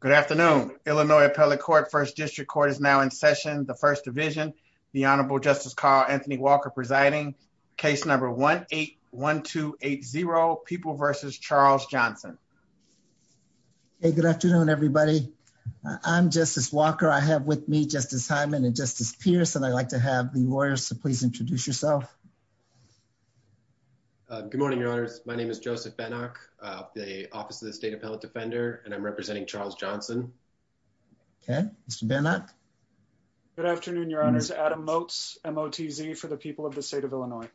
Good afternoon, Illinois Appellate Court, 1st District Court is now in session. The 1st Division, the Honorable Justice Carl Anthony Walker presiding, case number 1-8-1280, People v. Charles Johnson. Hey, good afternoon, everybody. I'm Justice Walker. I have with me Justice Hyman and Justice Pierce, and I'd like to have the lawyers to please introduce yourself. Good morning, Your Honors. My name is Joseph Benach, the Office of the State Appellate Defender, and I'm representing Charles Johnson. Okay. Mr. Benach? Good afternoon, Your Honors. Adam Motz, M-O-T-Z for the people of the state of Illinois.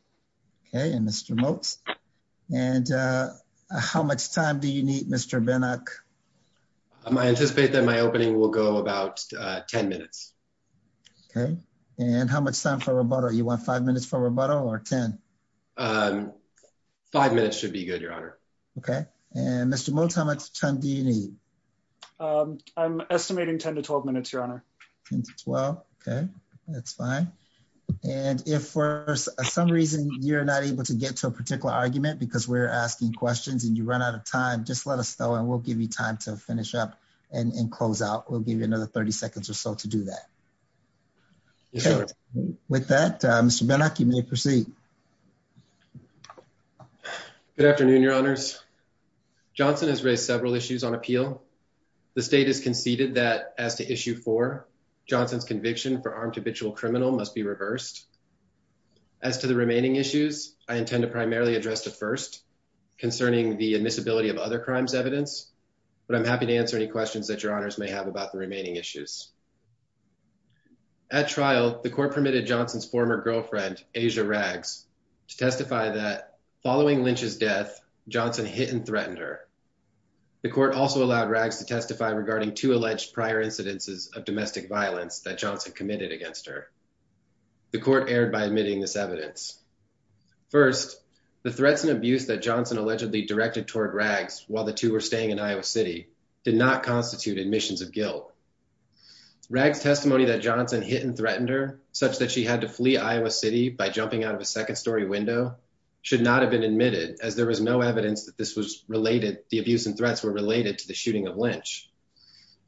Okay. And Mr. Motz. And how much time do you need, Mr. Benach? I anticipate that my opening will go about 10 minutes. Okay. And how much time for rebuttal? You want five minutes for rebuttal or 10? Five minutes should be good, Your Honor. Okay. And Mr. Motz, how much time do you need? I'm estimating 10 to 12 minutes, Your Honor. Ten to 12? Okay. That's fine. And if for some reason you're not able to get to a particular argument because we're asking questions and you run out of time, just let us know and we'll give you time to finish up and close out. We'll give you another 30 seconds or so to do that. Okay. With that, Mr. Benach, you may proceed. Good afternoon, Your Honors. Johnson has raised several issues on appeal. The state has conceded that as to issue four, Johnson's conviction for armed habitual criminal must be reversed. As to the remaining issues, I intend to primarily address the first concerning the admissibility of other crimes evidence, but I'm happy to answer any questions that Your Honors may have about the remaining issues. At trial, the court permitted Johnson's former girlfriend, Asia Rags, to testify that following Lynch's death, Johnson hit and threatened her. The court also allowed Rags to testify regarding two alleged prior incidences of domestic violence that Johnson committed against her. The court erred by admitting this evidence. First, the threats and abuse that Johnson allegedly directed toward Rags while the two were staying in Iowa city did not constitute admissions of guilt. Rags testimony that Johnson hit and threatened her such that she had to leave the second story window should not have been admitted as there was no evidence that this was related. The abuse and threats were related to the shooting of Lynch.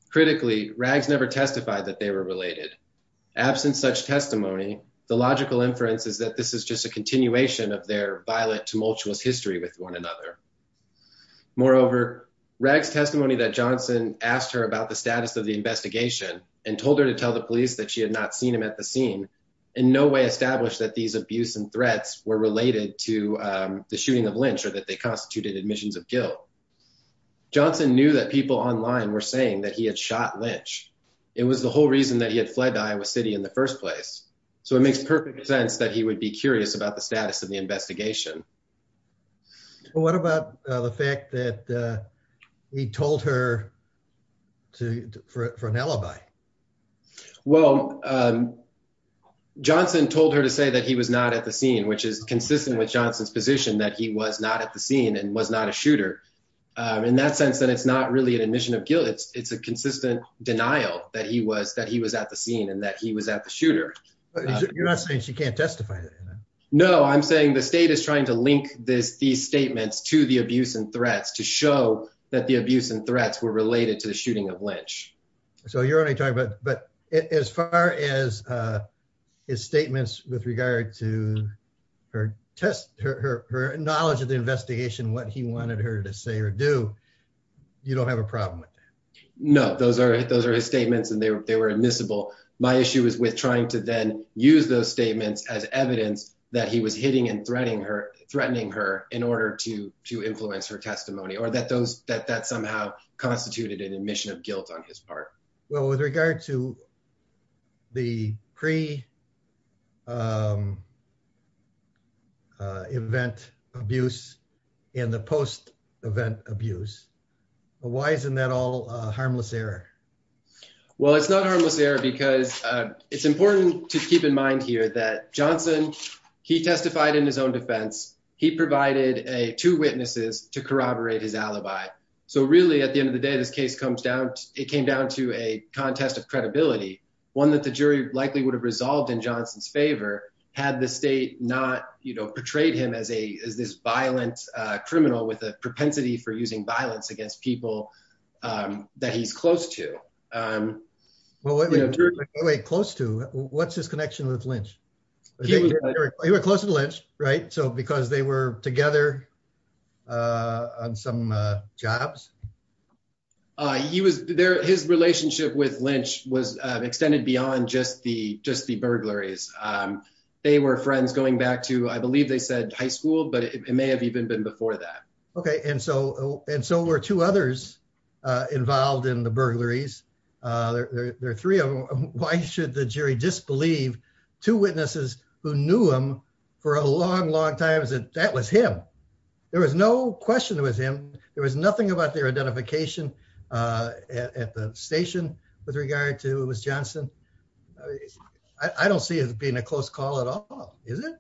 Critically, Rags never testified that they were related. Absent such testimony, the logical inference is that this is just a continuation of their violent tumultuous history with one another. Moreover, Rags testimony that Johnson asked her about the status of the investigation and told her to tell the police that she had not seen him at the scene in no way established that these abuse and threats were related to the shooting of Lynch or that they constituted admissions of guilt. Johnson knew that people online were saying that he had shot Lynch. It was the whole reason that he had fled to Iowa city in the first place. So it makes perfect sense that he would be curious about the status of the investigation. What about the fact that he told her to, for an alibi? Well, Johnson told her to say that he was not at the scene, which is consistent with Johnson's position, that he was not at the scene and was not a shooter in that sense, that it's not really an admission of guilt. It's a consistent denial that he was, that he was at the scene and that he was at the shooter. You're not saying she can't testify. No, I'm saying the state is trying to link this, these statements to the abuse and threats to show that the abuse and threats were related to the shooting of Lynch. So you're only talking about, but as far as his statements with regard to her test, her, her, her knowledge of the investigation, what he wanted her to say or do, you don't have a problem with that. No, those are, those are his statements and they were, they were admissible. My issue is with trying to then use those statements as evidence that he was hitting and threatening her, threatening her in order to influence her testimony or that those that, that somehow constituted an admission of guilt on his part. Well, with regard to the pre event abuse and the post event abuse, why isn't that all a harmless error? Well, it's not a harmless error because it's important to keep in mind here that Johnson, he testified in his own defense. He provided a two witnesses to corroborate his alibi. So really at the end of the day, this case comes down, it came down to a contest of credibility, one that the jury likely would have resolved in Johnson's favor had the state not, you know, portrayed him as a, as this violent criminal with a propensity for using violence against people that he's close to. Well, close to what's his connection with Lynch? He went close to the Lynch, right? So, because they were together on some jobs. He was there, his relationship with Lynch was extended beyond just the, just the burglaries. They were friends going back to, I believe they said high school, but it may have even been before that. Okay. And so, and so were two others involved in the burglaries. There are three of them. Why should the jury disbelieve two witnesses who knew him for a long, long time that that was him? There was no question it was him. There was nothing about their identification at the station with regard to it was Johnson. I don't see it as being a close call at all. Is it?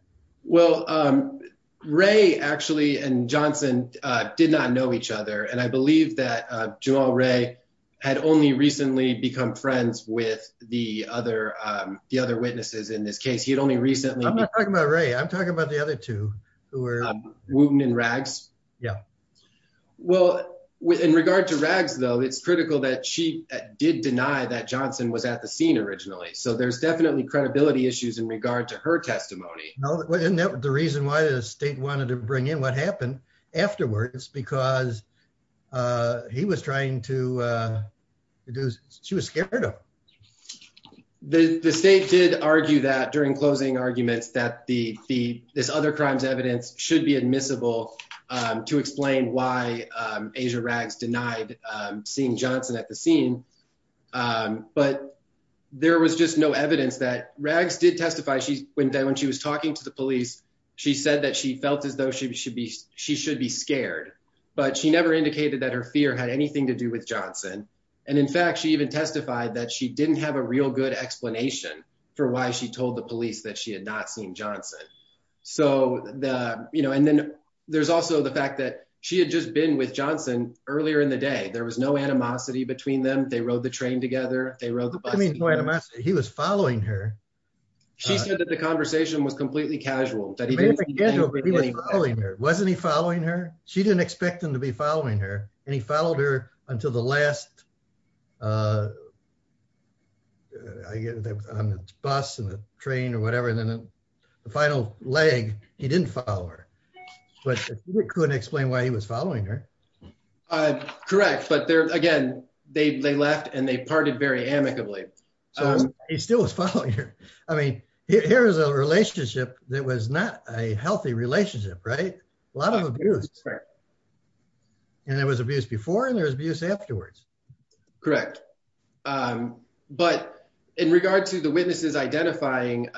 Well, Ray actually, and Johnson did not know each other. And I believe that Joel Ray had only recently become friends with the other, the other witnesses in this case. He had only recently. I'm not talking about Ray. I'm talking about the other two who were. Yeah. Well with, in regard to rags though, it's critical that she did deny that Johnson was at the scene originally. So there's definitely credibility issues in regard to her testimony. The reason why the state wanted to bring in what happened afterwards, because he was trying to do, she was scared of the state. Did argue that during closing arguments that the, the, this other crimes evidence should be admissible to explain why Asia rags denied seeing Johnson at the scene. But there was just no evidence that rags did testify. She's when, when she was talking to the police, she said that she felt as though she should be, she should be scared, but she never indicated that her fear had anything to do with Johnson. And in fact, she even testified that she didn't have a real good explanation for why she was there. So the, you know, and then there's also the fact that she had just been with Johnson earlier in the day, there was no animosity between them. They rode the train together. They rode the bus. He was following her. She said that the conversation was completely casual. Wasn't he following her? She didn't expect him to be following her and he followed her until the last I get on the bus and the train or whatever. And then the final leg, he didn't follow her, but couldn't explain why he was following her. Correct. But there, again, they, they left and they parted very amicably. He still was following her. I mean, here is a relationship that was not a healthy relationship, right? A lot of abuse. And there was abuse before and there was abuse afterwards. Correct. But in regard to the witnesses identifying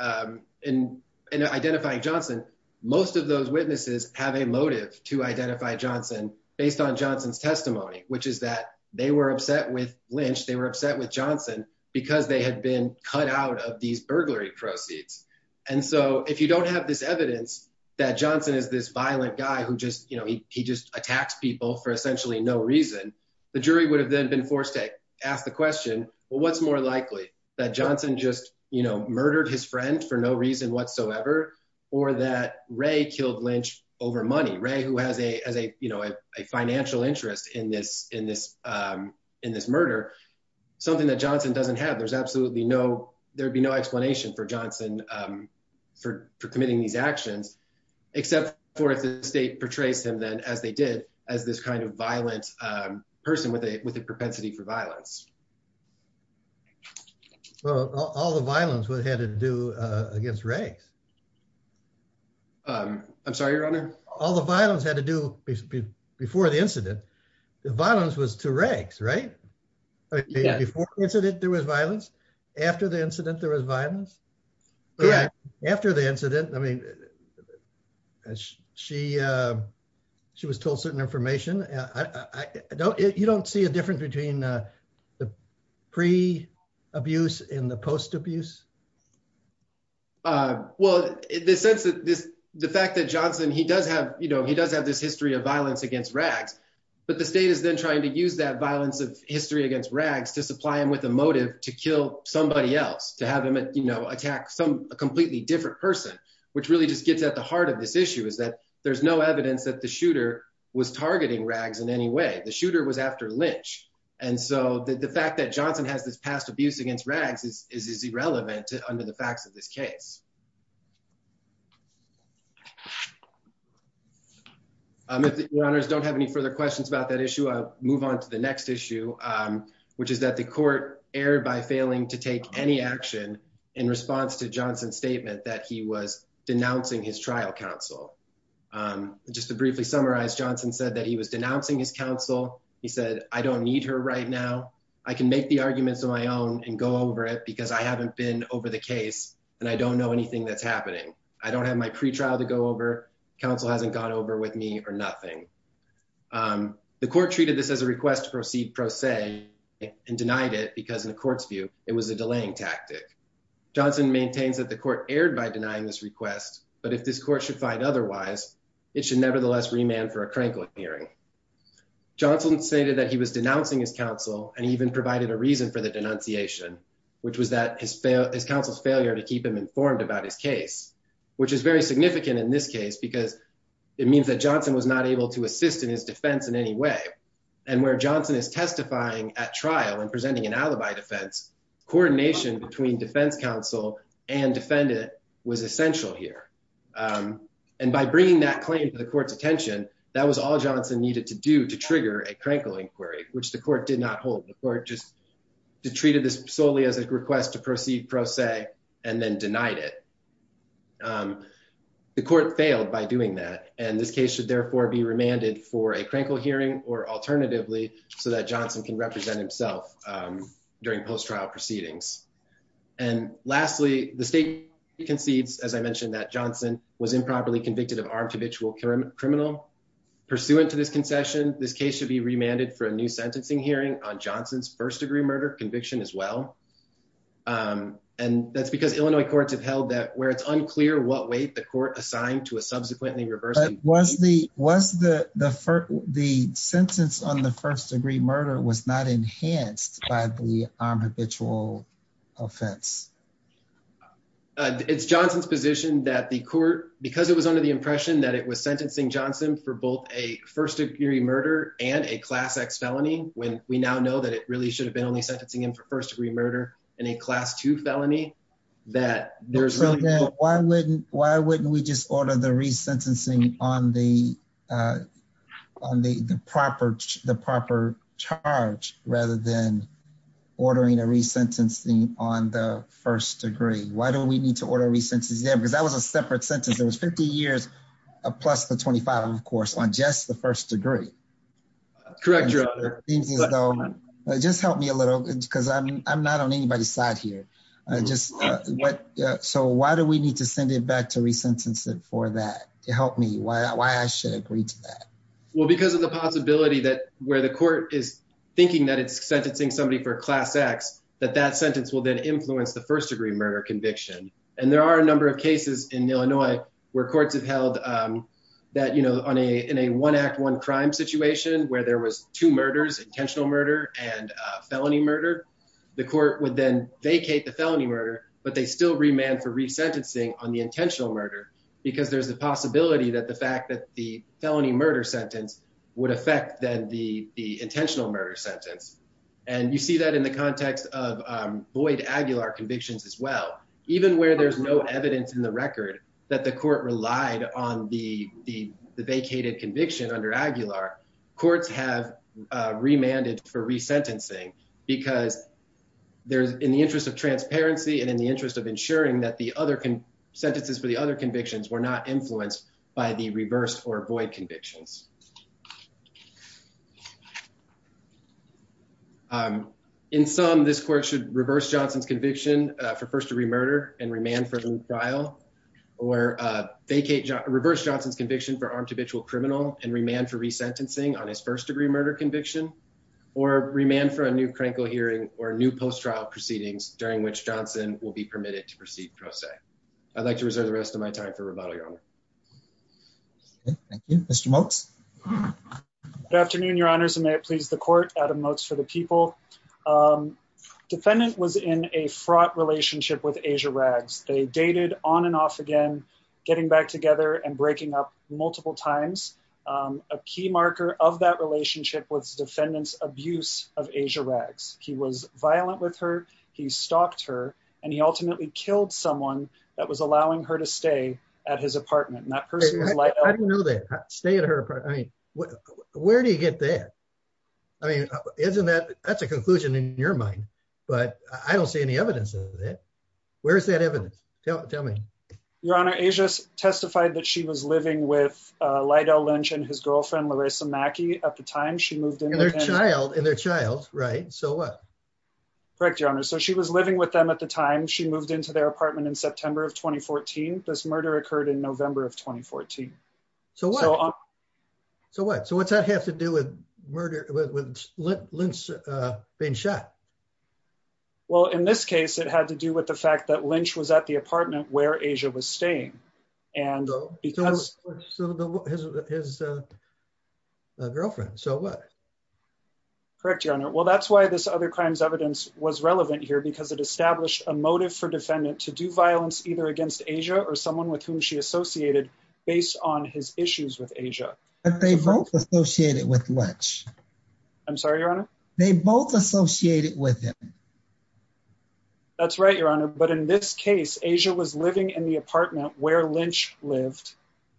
and identifying Johnson, most of those witnesses have a motive to identify Johnson based on Johnson's testimony, which is that they were upset with Lynch. They were upset with Johnson because they had been cut out of these burglary proceeds. And so if you don't have this evidence that Johnson is this violent guy who just, you know, he, he just attacks people for essentially no reason. The jury would have then been forced to ask the question, well, what's more likely that Johnson just, you know, murdered his friend for no reason whatsoever or that Ray killed Lynch over money. Ray, who has a, as a, you know, a financial interest in this, in this, in this murder, something that Johnson doesn't have. There's absolutely no, there'd be no explanation for Johnson for, for committing these actions, except for if the state portrays him then as they did as this kind of violent person with a, with a propensity for violence. Well, all the violence we had to do against rags. I'm sorry, your honor. All the violence had to do before the incident, the violence was to rags, right? Before incident, there was violence. After the incident, there was violence after the incident. I mean, she, she was told certain information. I don't, you don't see a difference between the pre abuse in the post abuse. Well, in the sense that this, the fact that Johnson, he does have, you know, he does have this history of violence against rags, but the state is then trying to use that violence of history against rags to supply him with a motive to kill somebody else, to have him, you know, attack some completely different person, which really just gets at the heart of this issue is that there's no evidence that the shooter was targeting rags in any way the shooter was after Lynch. And so the fact that Johnson has this past abuse against rags is, is irrelevant to under the facts of this case. If the owners don't have any further questions about that issue, I'll move on to the next issue, which is that the court erred by failing to take any action in response to Johnson's statement that he was denouncing his trial counsel. Just to briefly summarize, Johnson said that he was denouncing his counsel. He said, I don't need her right now. I can make the arguments on my own and go over it because I haven't been over the case and I don't know anything that's happening. I don't have my pretrial to go over. Counsel hasn't gone over with me or nothing. The court treated this as a request to proceed pro se and denied it because in the court's view, it was a delaying tactic. Johnson maintains that the court erred by denying this request, but if this court should find otherwise, it should nevertheless remand for a Krenkel hearing. Johnson stated that he was denouncing his counsel and even provided a reason for the denunciation, which was that his fail, his counsel's failure to keep him informed about his case, which is very significant in this case because it means that Johnson was not able to assist in his defense in any way. And where Johnson is testifying at trial and presenting an alibi defense coordination between defense counsel and defendant was essential here. And by bringing that claim to the court's attention, that was all Johnson needed to do to trigger a Krenkel inquiry, which the court did not hold. The court just treated this solely as a request to proceed pro se and then denied it. The court failed by doing that. And this case should therefore be remanded for a Krenkel hearing or alternatively so that Johnson can represent himself during post-trial proceedings. And lastly, the state concedes, as I mentioned, that Johnson was improperly convicted of armed habitual criminal pursuant to this concession, this case should be remanded for a new sentencing hearing on Johnson's first degree murder conviction as well. And that's because Illinois courts have held that where it's unclear what weight the court assigned to a subsequently reversed. Was the, was the, the, the sentence on the first degree murder was not enhanced by the armed habitual offense. It's Johnson's position that the court, because it was under the impression that it was sentencing Johnson for both a first degree murder and a class X felony. When we now know that it really should have been only sentencing him for first degree murder and a class two felony that there's really. Why wouldn't, why wouldn't we just order the resentencing on the, on the proper, the proper charge rather than ordering a resentencing on the first degree. Why don't we need to order a recent exam? Cause that was a separate sentence. It was 50 years plus the 25, of course, on just the first degree. Correct. Just help me a little because I'm, I'm not on anybody's side here. Just what, so why do we need to send it back to resentencing for that to help me? Why, why I should agree to that? Well, because of the possibility that where the court is thinking that it's sentencing somebody for class X, that that sentence will then influence the first degree murder conviction. And there are a number of cases in Illinois where courts have held that, you know, on a, in a one act, one crime situation where there was two murders intentional murder and a felony murder, the court would then vacate the felony murder, but they still remand for resentencing on the intentional murder because there's a possibility that the fact that the felony murder sentence would affect then the, the intentional murder sentence. And you see that in the context of void Aguilar convictions as well, even where there's no evidence in the record that the court relied on the, the, the vacated conviction under Aguilar courts have remanded for resentencing because there's in the interest of transparency and in the interest of ensuring that the other sentences for the other convictions were not influenced by the reverse or void convictions. In some, this court should reverse Johnson's conviction for first degree murder and remand for trial or vacate reverse Johnson's conviction for armed habitual criminal and remand for resentencing on his first degree murder conviction or remand for a new crankle hearing or new post-trial proceedings during which Johnson will be permitted to proceed. I'd like to reserve the rest of my time for rebuttal. Your honor. Good afternoon, your honors. And may it please the court out of notes for the people defendant was in a fraught relationship with Asia rags. They dated on and off again, getting back together and breaking up multiple times. A key marker of that relationship was defendants abuse of Asia rags. He was violent with her. He stalked her and he ultimately killed someone that was allowing her to stay at his apartment. And that person was like, I didn't know that stay at her. I mean, where do you get that? I mean, isn't that, that's a conclusion in your mind, but I don't see any evidence of that. Where's that evidence? Tell me. Your honor Asia's testified that she was living with a Lido lunch and his girlfriend, Larissa Mackey. At the time she moved in. And their child and their child. Right. So what? Correct your honor. So she was living with them at the time. She moved into their apartment in September of 2014. This murder occurred in November of 2014. So what, so what, so what's that have to do with murder with, with Lynch being shot? Well, in this case, it had to do with the fact that Lynch was at the apartment where Asia was staying and because. His girlfriend. So what. Correct your honor. Well that's why this other crimes evidence was relevant here because it established a motive for defendant to do violence either against Asia or someone with whom she associated based on his issues with Asia. And they both associated with lunch. I'm sorry, your honor. They both associated with him. That's right. Your honor. But in this case, Asia was living in the apartment where Lynch lived.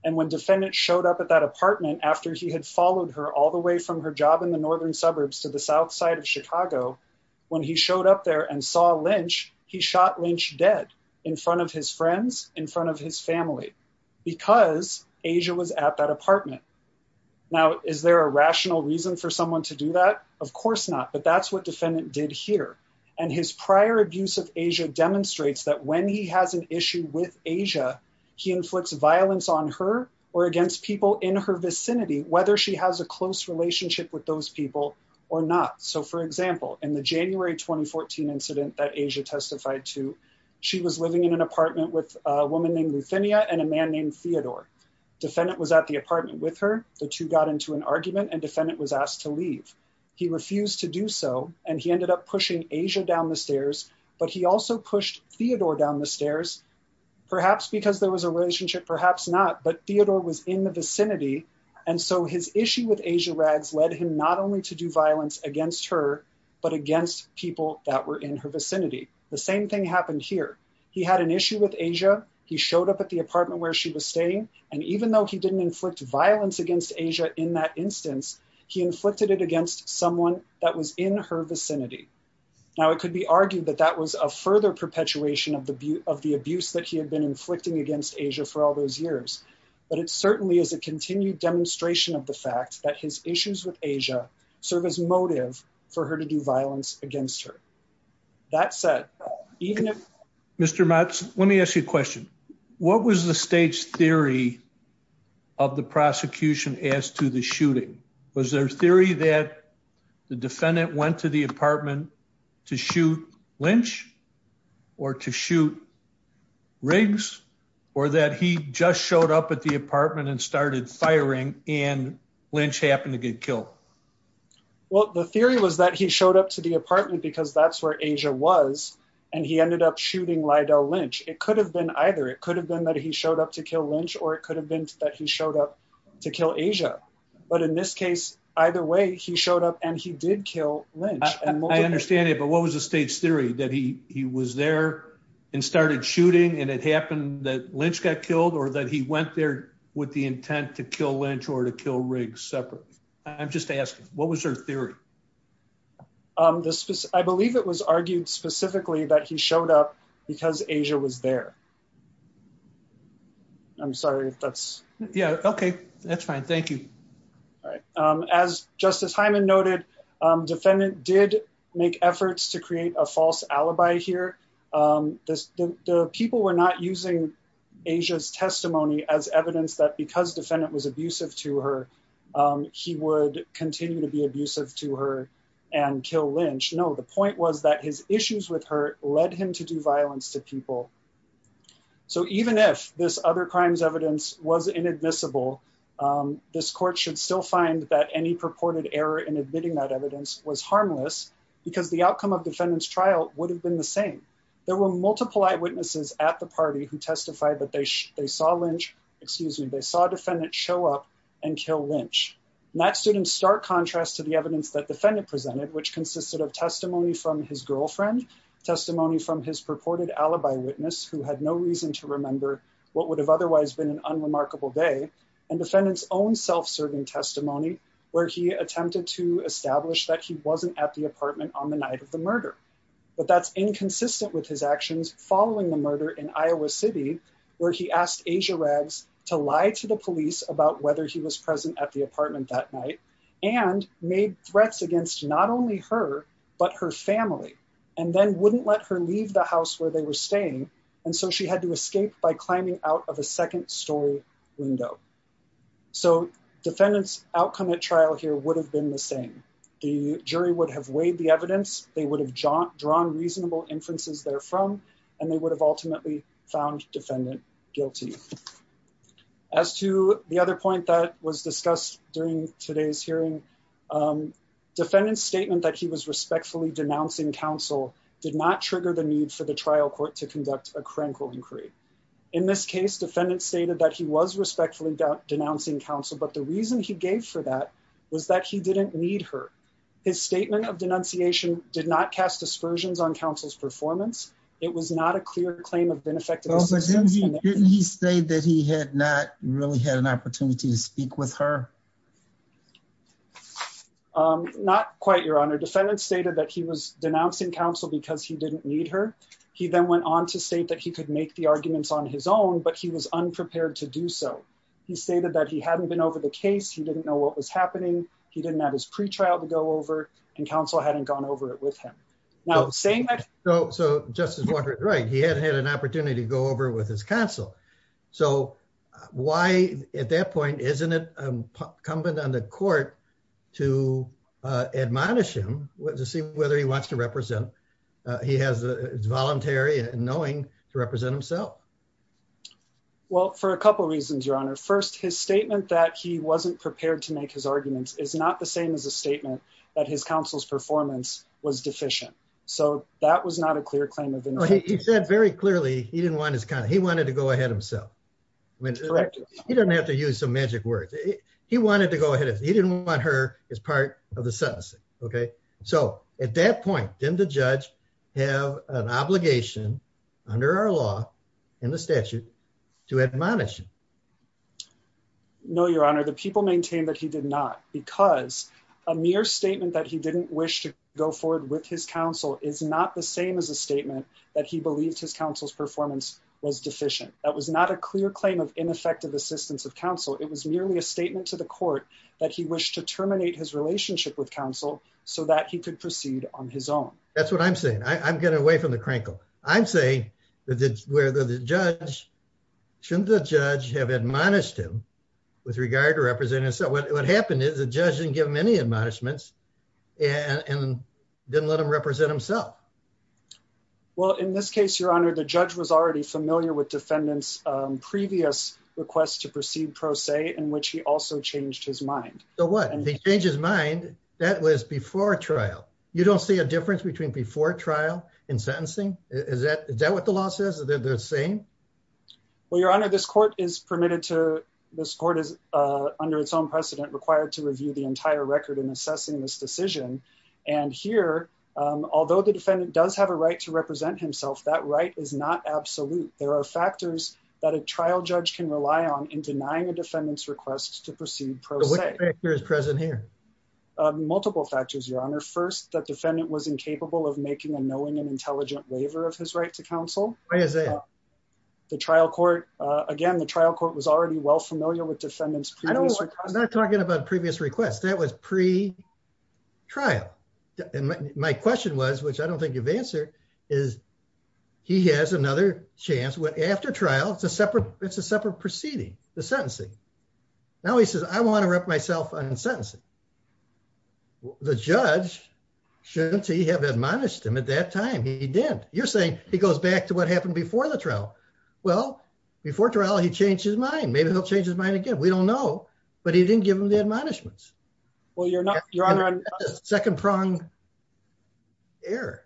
And when defendant showed up at that apartment, after he had followed her all the way from her job in the Northern suburbs to the South side of Chicago, when he showed up there and saw Lynch, he shot Lynch dead in front of his friends, in front of his family, because Asia was at that apartment. Now, is there a rational reason for someone to do that? Of course not, but that's what defendant did here. And his prior abuse of Asia demonstrates that when he has an issue with Asia, he inflicts violence on her or against people in her vicinity, whether she has a close relationship with those people or not. So for example, in the January, 2014 incident that Asia testified to, she was living in an apartment with a woman named Luthania and a man named Theodore. Defendant was at the apartment with her. The two got into an argument and defendant was asked to leave. He refused to do so. And he ended up pushing Asia down the stairs, but he also pushed Theodore down the stairs, perhaps because there was a relationship, perhaps not, but Theodore was in the vicinity. And so his issue with Asia Rags led him not only to do violence against her, but against people that were in her vicinity. The same thing happened here. He had an issue with Asia. He showed up at the apartment where she was staying. And even though he didn't inflict violence against Asia in that instance, he inflicted it against someone that was in her vicinity. Now it could be argued that that was a further perpetuation of the abuse that he had been inflicting against Asia for all those years. But it certainly is a continued demonstration of the fact that his issues with Asia serve as motive for her to do violence against her. That said, even if... Mr. Motz, let me ask you a question. What was the state's theory of the prosecution as to the shooting? Was there a theory that the defendant went to the apartment to shoot Lynch or to shoot Riggs, or that he just showed up at the apartment and started firing and Lynch happened to get killed? Well, the theory was that he showed up to the apartment because that's where Asia was and he ended up shooting Lydell Lynch. It could have been either. It could have been that he showed up to kill Lynch, or it could have been that he showed up to kill Asia. But in this case, either way, he showed up and he did kill Lynch. I understand it. But what was the state's theory that he was there and started shooting and it happened that Lynch got killed or that he went there with the intent to kill Lynch or to kill Riggs separately? I'm just asking, what was their theory? I believe it was argued specifically that he showed up because Asia was there. I'm sorry if that's... Yeah. Okay. That's fine. Thank you. As Justice Hyman noted, defendant did make efforts to create a false alibi here. The people were not using Asia's testimony as evidence that because defendant was abusive to her, he would continue to be abusive to her and kill Lynch. No, the point was that his issues with her led him to do violence to people. So even if this other crimes evidence was inadmissible, this court should still find that any purported error in admitting that evidence was harmless because the outcome of defendant's trial would have been the same. There were multiple eyewitnesses at the party who testified that they saw Lynch, excuse me, they saw defendant show up and kill Lynch. And that stood in stark contrast to the evidence that defendant presented, which consisted of testimony from his girlfriend, testimony from his purported alibi witness who had no reason to remember what would have otherwise been an unremarkable day and defendant's own self-serving testimony where he attempted to establish that he wasn't at the apartment on the night of the murder. But that's inconsistent with his actions following the murder in Iowa city, where he asked Asia Rags to lie to the police about whether he was present at the apartment that night and made threats against not only her, but her family, and then wouldn't let her leave the house where they were staying. And so she had to escape by climbing out of a second story window. So defendant's outcome at trial here would have been the same. The jury would have weighed the evidence. They would have drawn reasonable inferences there from, and they would have ultimately found defendant guilty. As to the other point that was discussed during today's hearing, defendant's statement that he was respectfully denouncing counsel did not reflect a critical inquiry. In this case, defendant stated that he was respectfully denouncing counsel, but the reason he gave for that was that he didn't need her. His statement of denunciation did not cast aspersions on counsel's performance. It was not a clear claim of benefit. Didn't he say that he had not really had an opportunity to speak with her? Not quite your honor. Defendant stated that he was denouncing counsel because he didn't need her. He then went on to state that he could make the arguments on his own, but he was unprepared to do so. He stated that he hadn't been over the case. He didn't know what was happening. He didn't have his pre-trial to go over and counsel hadn't gone over it with him. Now saying that. So justice Walker is right. He hadn't had an opportunity to go over with his counsel. So why at that point, isn't it incumbent on the court to admonish him, to see whether he wants to represent, he has the voluntary and knowing to represent himself. Well, for a couple of reasons, your honor. First, his statement that he wasn't prepared to make his arguments is not the same as a statement that his counsel's performance was deficient. So that was not a clear claim of. He said very clearly he didn't want his kind of, he wanted to go ahead himself. He doesn't have to use some magic words. He wanted to go ahead. If he didn't want her as part of the sense. Okay. So at that point, then the judge have an obligation under our law and the statute to admonish. No, your honor, the people maintain that he did not because a mere statement that he didn't wish to go forward with his counsel is not the same as a statement that he believed his counsel's performance was deficient. That was not a clear claim of ineffective assistance of counsel. It was merely a statement to the court that he wished to terminate his case. So that he could proceed on his own. That's what I'm saying. I'm getting away from the crankle. I'm saying that it's where the judge, shouldn't the judge have admonished him with regard to represent himself? What happened is the judge didn't give him any admonishments and didn't let him represent himself. Well, in this case, your honor, the judge was already familiar with defendants previous requests to proceed pro se in which he also changed his mind. So what did he change his mind? That was before trial. You don't see a difference between before trial in sentencing. Is that, is that what the law says? Is that the same? Well, your honor, this court is permitted to, this court is under its own precedent required to review the entire record in assessing this decision. And here, although the defendant does have a right to represent himself, that right is not absolute. There are factors that a trial judge can rely on in denying a defendant's request to proceed pro se. What factors are present here? Multiple factors, your honor. First that defendant was incapable of making a knowing and intelligent waiver of his right to counsel. The trial court, again, the trial court was already well familiar with defendants previous requests. I'm not talking about previous requests. That was pre trial. And my question was, which I don't think you've answered is he has another chance after trial. It's a separate, it's a separate proceeding, the sentencing. Now he says, I want to rep myself on sentencing. The judge shouldn't he have admonished him at that time? He didn't. You're saying he goes back to what happened before the trial. Well, before trial, he changed his mind. Maybe he'll change his mind again. We don't know, but he didn't give him the admonishments. Well, you're not your honor. Second prong error.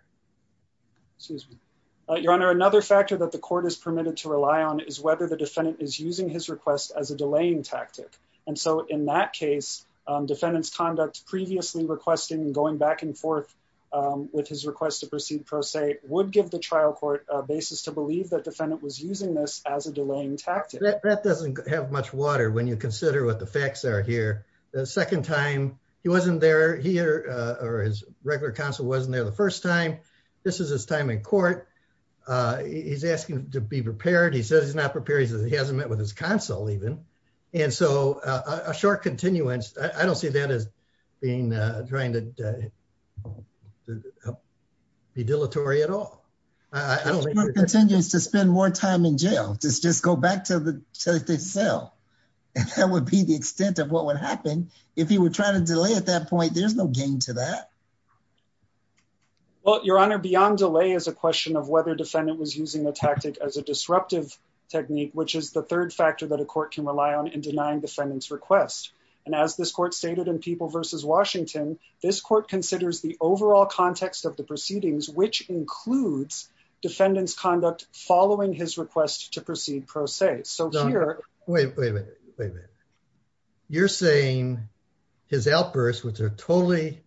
Excuse me, your honor. Another factor that the court is permitted to rely on is whether the defendant was using this as a delaying tactic. And so in that case, defendant's conduct previously requesting and going back and forth. With his request to proceed, pro se would give the trial court a basis to believe that defendant was using this as a delaying tactic. That doesn't have much water. When you consider what the facts are here. The second time he wasn't there here. Or his regular counsel wasn't there the first time. This is his time in court. He's asking to be prepared. He says he's not prepared. He says he hasn't met with his counsel even. And so a short continuance. I don't see that as being trying to. Be dilatory at all. I don't. Continue to spend more time in jail. Just, just go back to the cell. And that would be the extent of what would happen if he were trying to delay at that point. There's no gain to that. Well, your honor, beyond delay is a question of whether defendant was using the tactic as a delaying tactic. And that's the third factor. Which is the third factor that a court can rely on in denying defendants request. And as this court stated in people versus Washington, this court considers the overall context of the proceedings, which includes. Defendants conduct following his request to proceed pro se. So here. Wait, wait a minute. Wait a minute. You're saying. His outbursts, which are totally.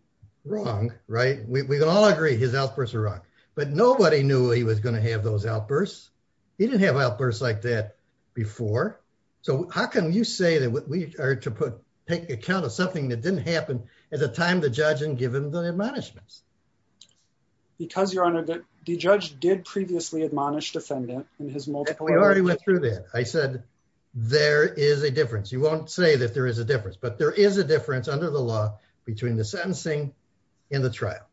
Wrong. Right. We can all agree his outbursts are wrong. But nobody knew he was going to have those outbursts. He didn't have outbursts like that. Before. So how can you say that we are to put, take account of something that didn't happen at the time, the judge and given the admonishments. Because your honor. The judge did previously admonish defendant and his multiple. I already went through that. I said. There is a difference. You won't say that there is a difference, but there is a difference under the law between the sentencing. In the trial.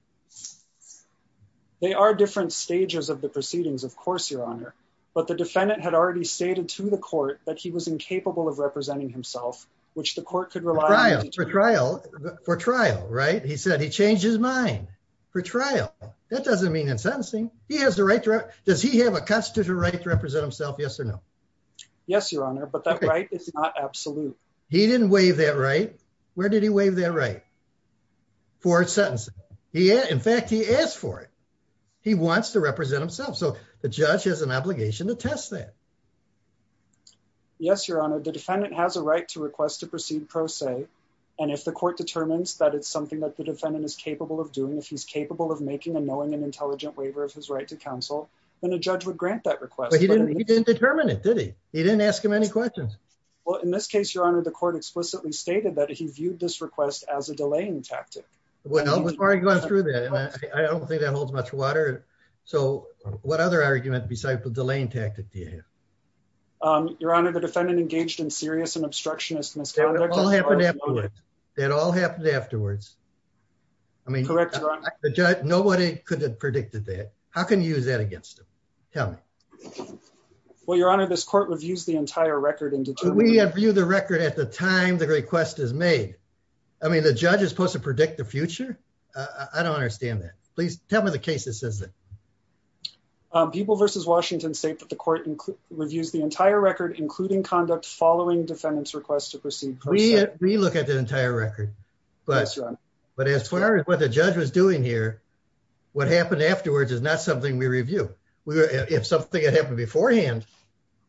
They are different stages of the proceedings. Of course, your honor. But the defendant had already stated to the court that he was incapable of representing himself. Which the court could rely on trial for trial. Right. He said he changed his mind. For trial. That doesn't mean in sentencing. He has the right. Does he have a custody right to represent himself? Yes or no. Yes, your honor. But that's right. It's not absolute. He didn't wave that. Right. Where did he wave that? Right. For sentencing. Yeah. In fact, he asked for it. He wants to represent himself. So the judge has an obligation to test that. Yes, your honor. The defendant has a right to request to proceed pro se. And if the court determines that it's something that the defendant is capable of doing, if he's capable of making a knowing and intelligent waiver of his right to counsel. And the judge would grant that request. He didn't determine it. Did he? He didn't ask him any questions. Well, in this case, your honor, The court explicitly stated that he viewed this request as a delaying tactic. Going through that. I don't think that holds much water. So what other argument besides the delaying tactic do you have? Your honor, the defendant engaged in serious and obstructionist. That all happened afterwards. I mean, The judge, nobody could have predicted that. How can you use that against him? Tell me. Well, your honor, this court reviews the entire record. We have viewed the record at the time. The request is made. I mean, the judge is supposed to predict the future. I don't understand that. Please tell me the case. This isn't. People versus Washington state that the court. We've used the entire record, including conduct, following defendants requests to proceed. We look at the entire record. But as far as what the judge was doing here. What happened afterwards is not something we review. If something had happened beforehand.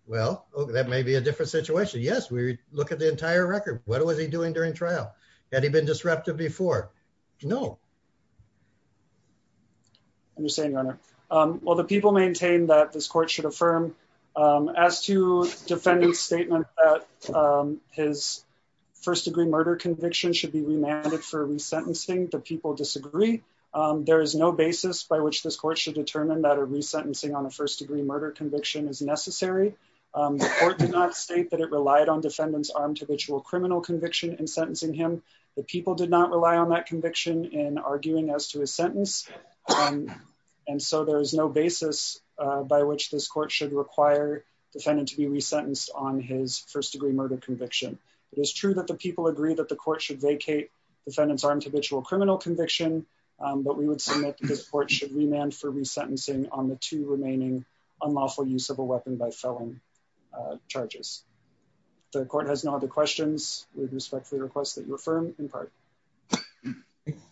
Well, that may be a different situation. Yes. We look at the entire record. What was he doing during trial? Had he been disrupted before? No. Well, the people maintain that this court should affirm. As to defending statement. His first degree murder conviction should be remanded for resentencing. The people disagree. There is no basis by which this court should determine that a resentencing on a first degree murder conviction is necessary. The court did not state that it relied on defendants. Armed habitual criminal conviction and sentencing him. The people did not rely on that conviction in arguing as to a sentence. And so there is no basis. By which this court should require defendant to be resentenced on his first degree murder conviction. It is true that the people agree that the court should vacate defendant's armed habitual criminal conviction. But we would submit this court should remand for resentencing on the two remaining. Unlawful use of a weapon by felon. Charges. The court has no other questions with respect for the request that your firm in part.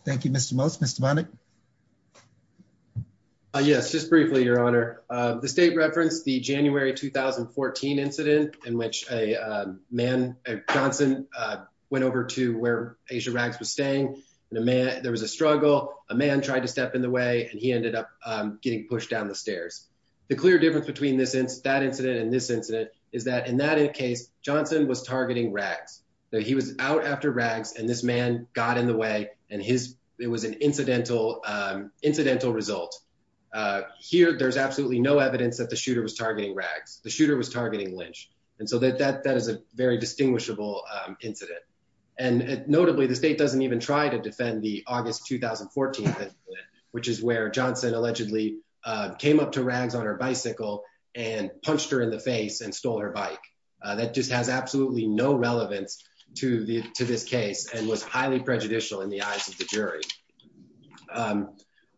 Thank you, Mr. Most, Mr. Yes, just briefly, your honor. The state referenced the January, 2014 incident in which a man. Johnson. Went over to where Asia rags was staying. And a man, there was a struggle. A man tried to step in the way. And he ended up getting pushed down the stairs. The clear difference between this incident, that incident and this incident is that in that case, Johnson was targeting rags. That he was out after rags and this man got in the way and his, it was an incidental incidental result. Here. There's absolutely no evidence that the shooter was targeting rags. The shooter was targeting Lynch. And so that, that, that is a very distinguishable incident. And notably the state doesn't even try to defend the August, 2014. Which is where Johnson allegedly. Came up to rags on her bicycle and punched her in the face and stole her bike. That just has absolutely no relevance to the, to this case and was highly prejudicial in the eyes of the jury.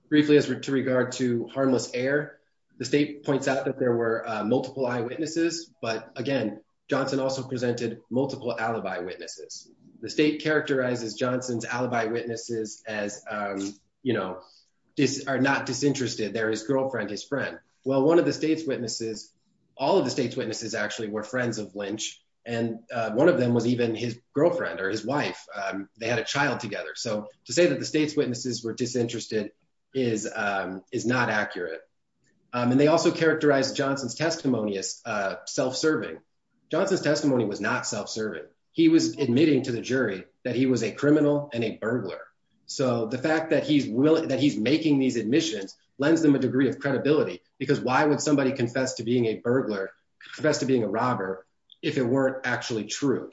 Briefly as we're to regard to harmless air. The state points out that there were multiple eyewitnesses, but again, Johnson also presented multiple alibi witnesses. The state characterizes Johnson's alibi witnesses as you know, This are not disinterested. There is girlfriend, his friend. Well, one of the state's witnesses. All of the state's witnesses actually were friends of Lynch. And one of them was even his girlfriend or his wife. They had a child together. So to say that the state's witnesses were disinterested is, Is not accurate. And they also characterize Johnson's testimony as self-serving. Johnson's testimony was not self-serving. He was admitting to the jury that he was a criminal and a burglar. So the fact that he's willing, that he's making these admissions. Lends them a degree of credibility because why would somebody confess to being a burglar? Confess to being a robber. If it weren't actually true.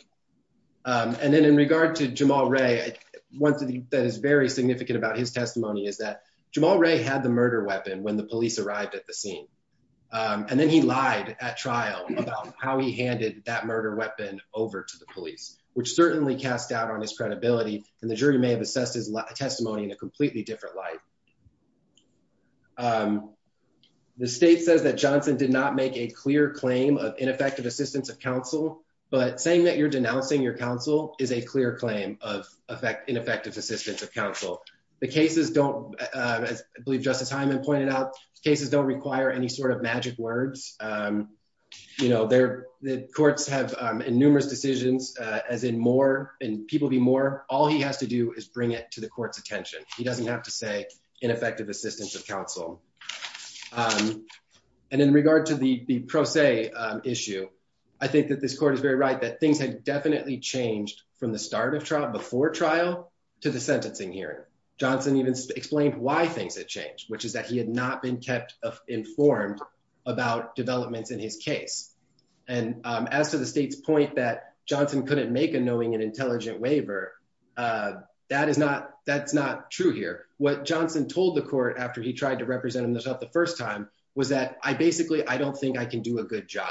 And then in regard to Jamal Ray, One thing that is very significant about his testimony is that Jamal Ray had the murder weapon when the police arrived at the scene. And then he lied at trial about how he handed that murder weapon over to the police, which certainly cast doubt on his credibility. And the jury may have assessed his testimony in a completely different light. The state says that Johnson did not make a clear claim of ineffective assistance of counsel, but saying that you're denouncing your counsel is a clear claim of effect ineffective assistance of counsel. The cases don't believe justice Heiman pointed out cases don't require any sort of magic words. You know, they're the courts have in numerous decisions, as in more, and people be more, all he has to do is bring it to the court's attention. He doesn't have to say ineffective assistance of counsel. And in regard to the pro se issue, I think that this court is very right that things had definitely changed from the start of trial before trial to the sentencing hearing. Johnson even explained why things had changed, which is that he had not been kept informed about developments in his case. And as to the state's point that Johnson couldn't make a knowing and intelligent waiver, that is not, that's not true here. What Johnson told the court after he tried to represent himself the first time was that I basically, I don't think I can do a good job,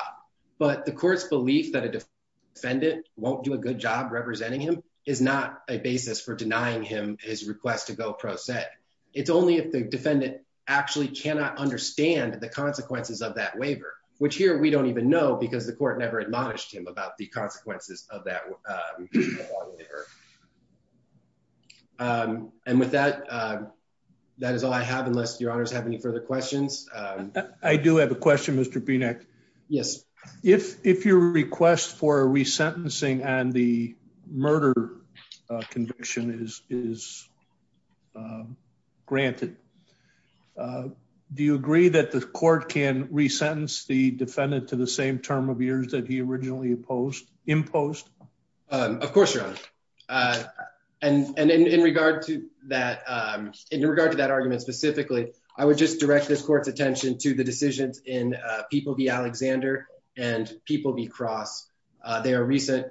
but the court's belief that a defendant won't do a good job. Representing him is not a basis for denying him his request to go pro set. It's only if the defendant actually cannot understand the consequences of that waiver, which here we don't even know because the court never admonished him about the consequences of that. And with that, that is all I have. Unless your honors have any further questions. I do have a question, Mr. BNEC. Yes. If, if your request for resentencing and the murder conviction is, is granted, do you agree that the court can resentence the defendant to the same term of years that he originally opposed imposed? Of course your honor. And, and in, in regard to that, in regard to that argument specifically, I would just direct this court's attention to the decisions in people, the Alexander and people be cross. They are recent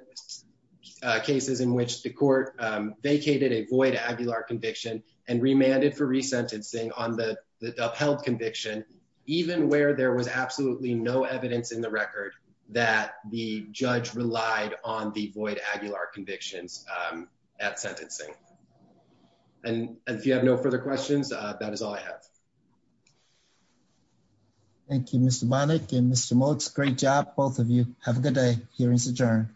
cases in which the court vacated a void Aguilar conviction and remanded for resentencing on the upheld conviction, even where there was absolutely no evidence in the record that the judge relied on the void Aguilar convictions at sentencing. And if you have no further questions, that is all I have. Thank you, Mr. Monic and Mr. Great job. Both of you have a good day. Hearing's adjourned.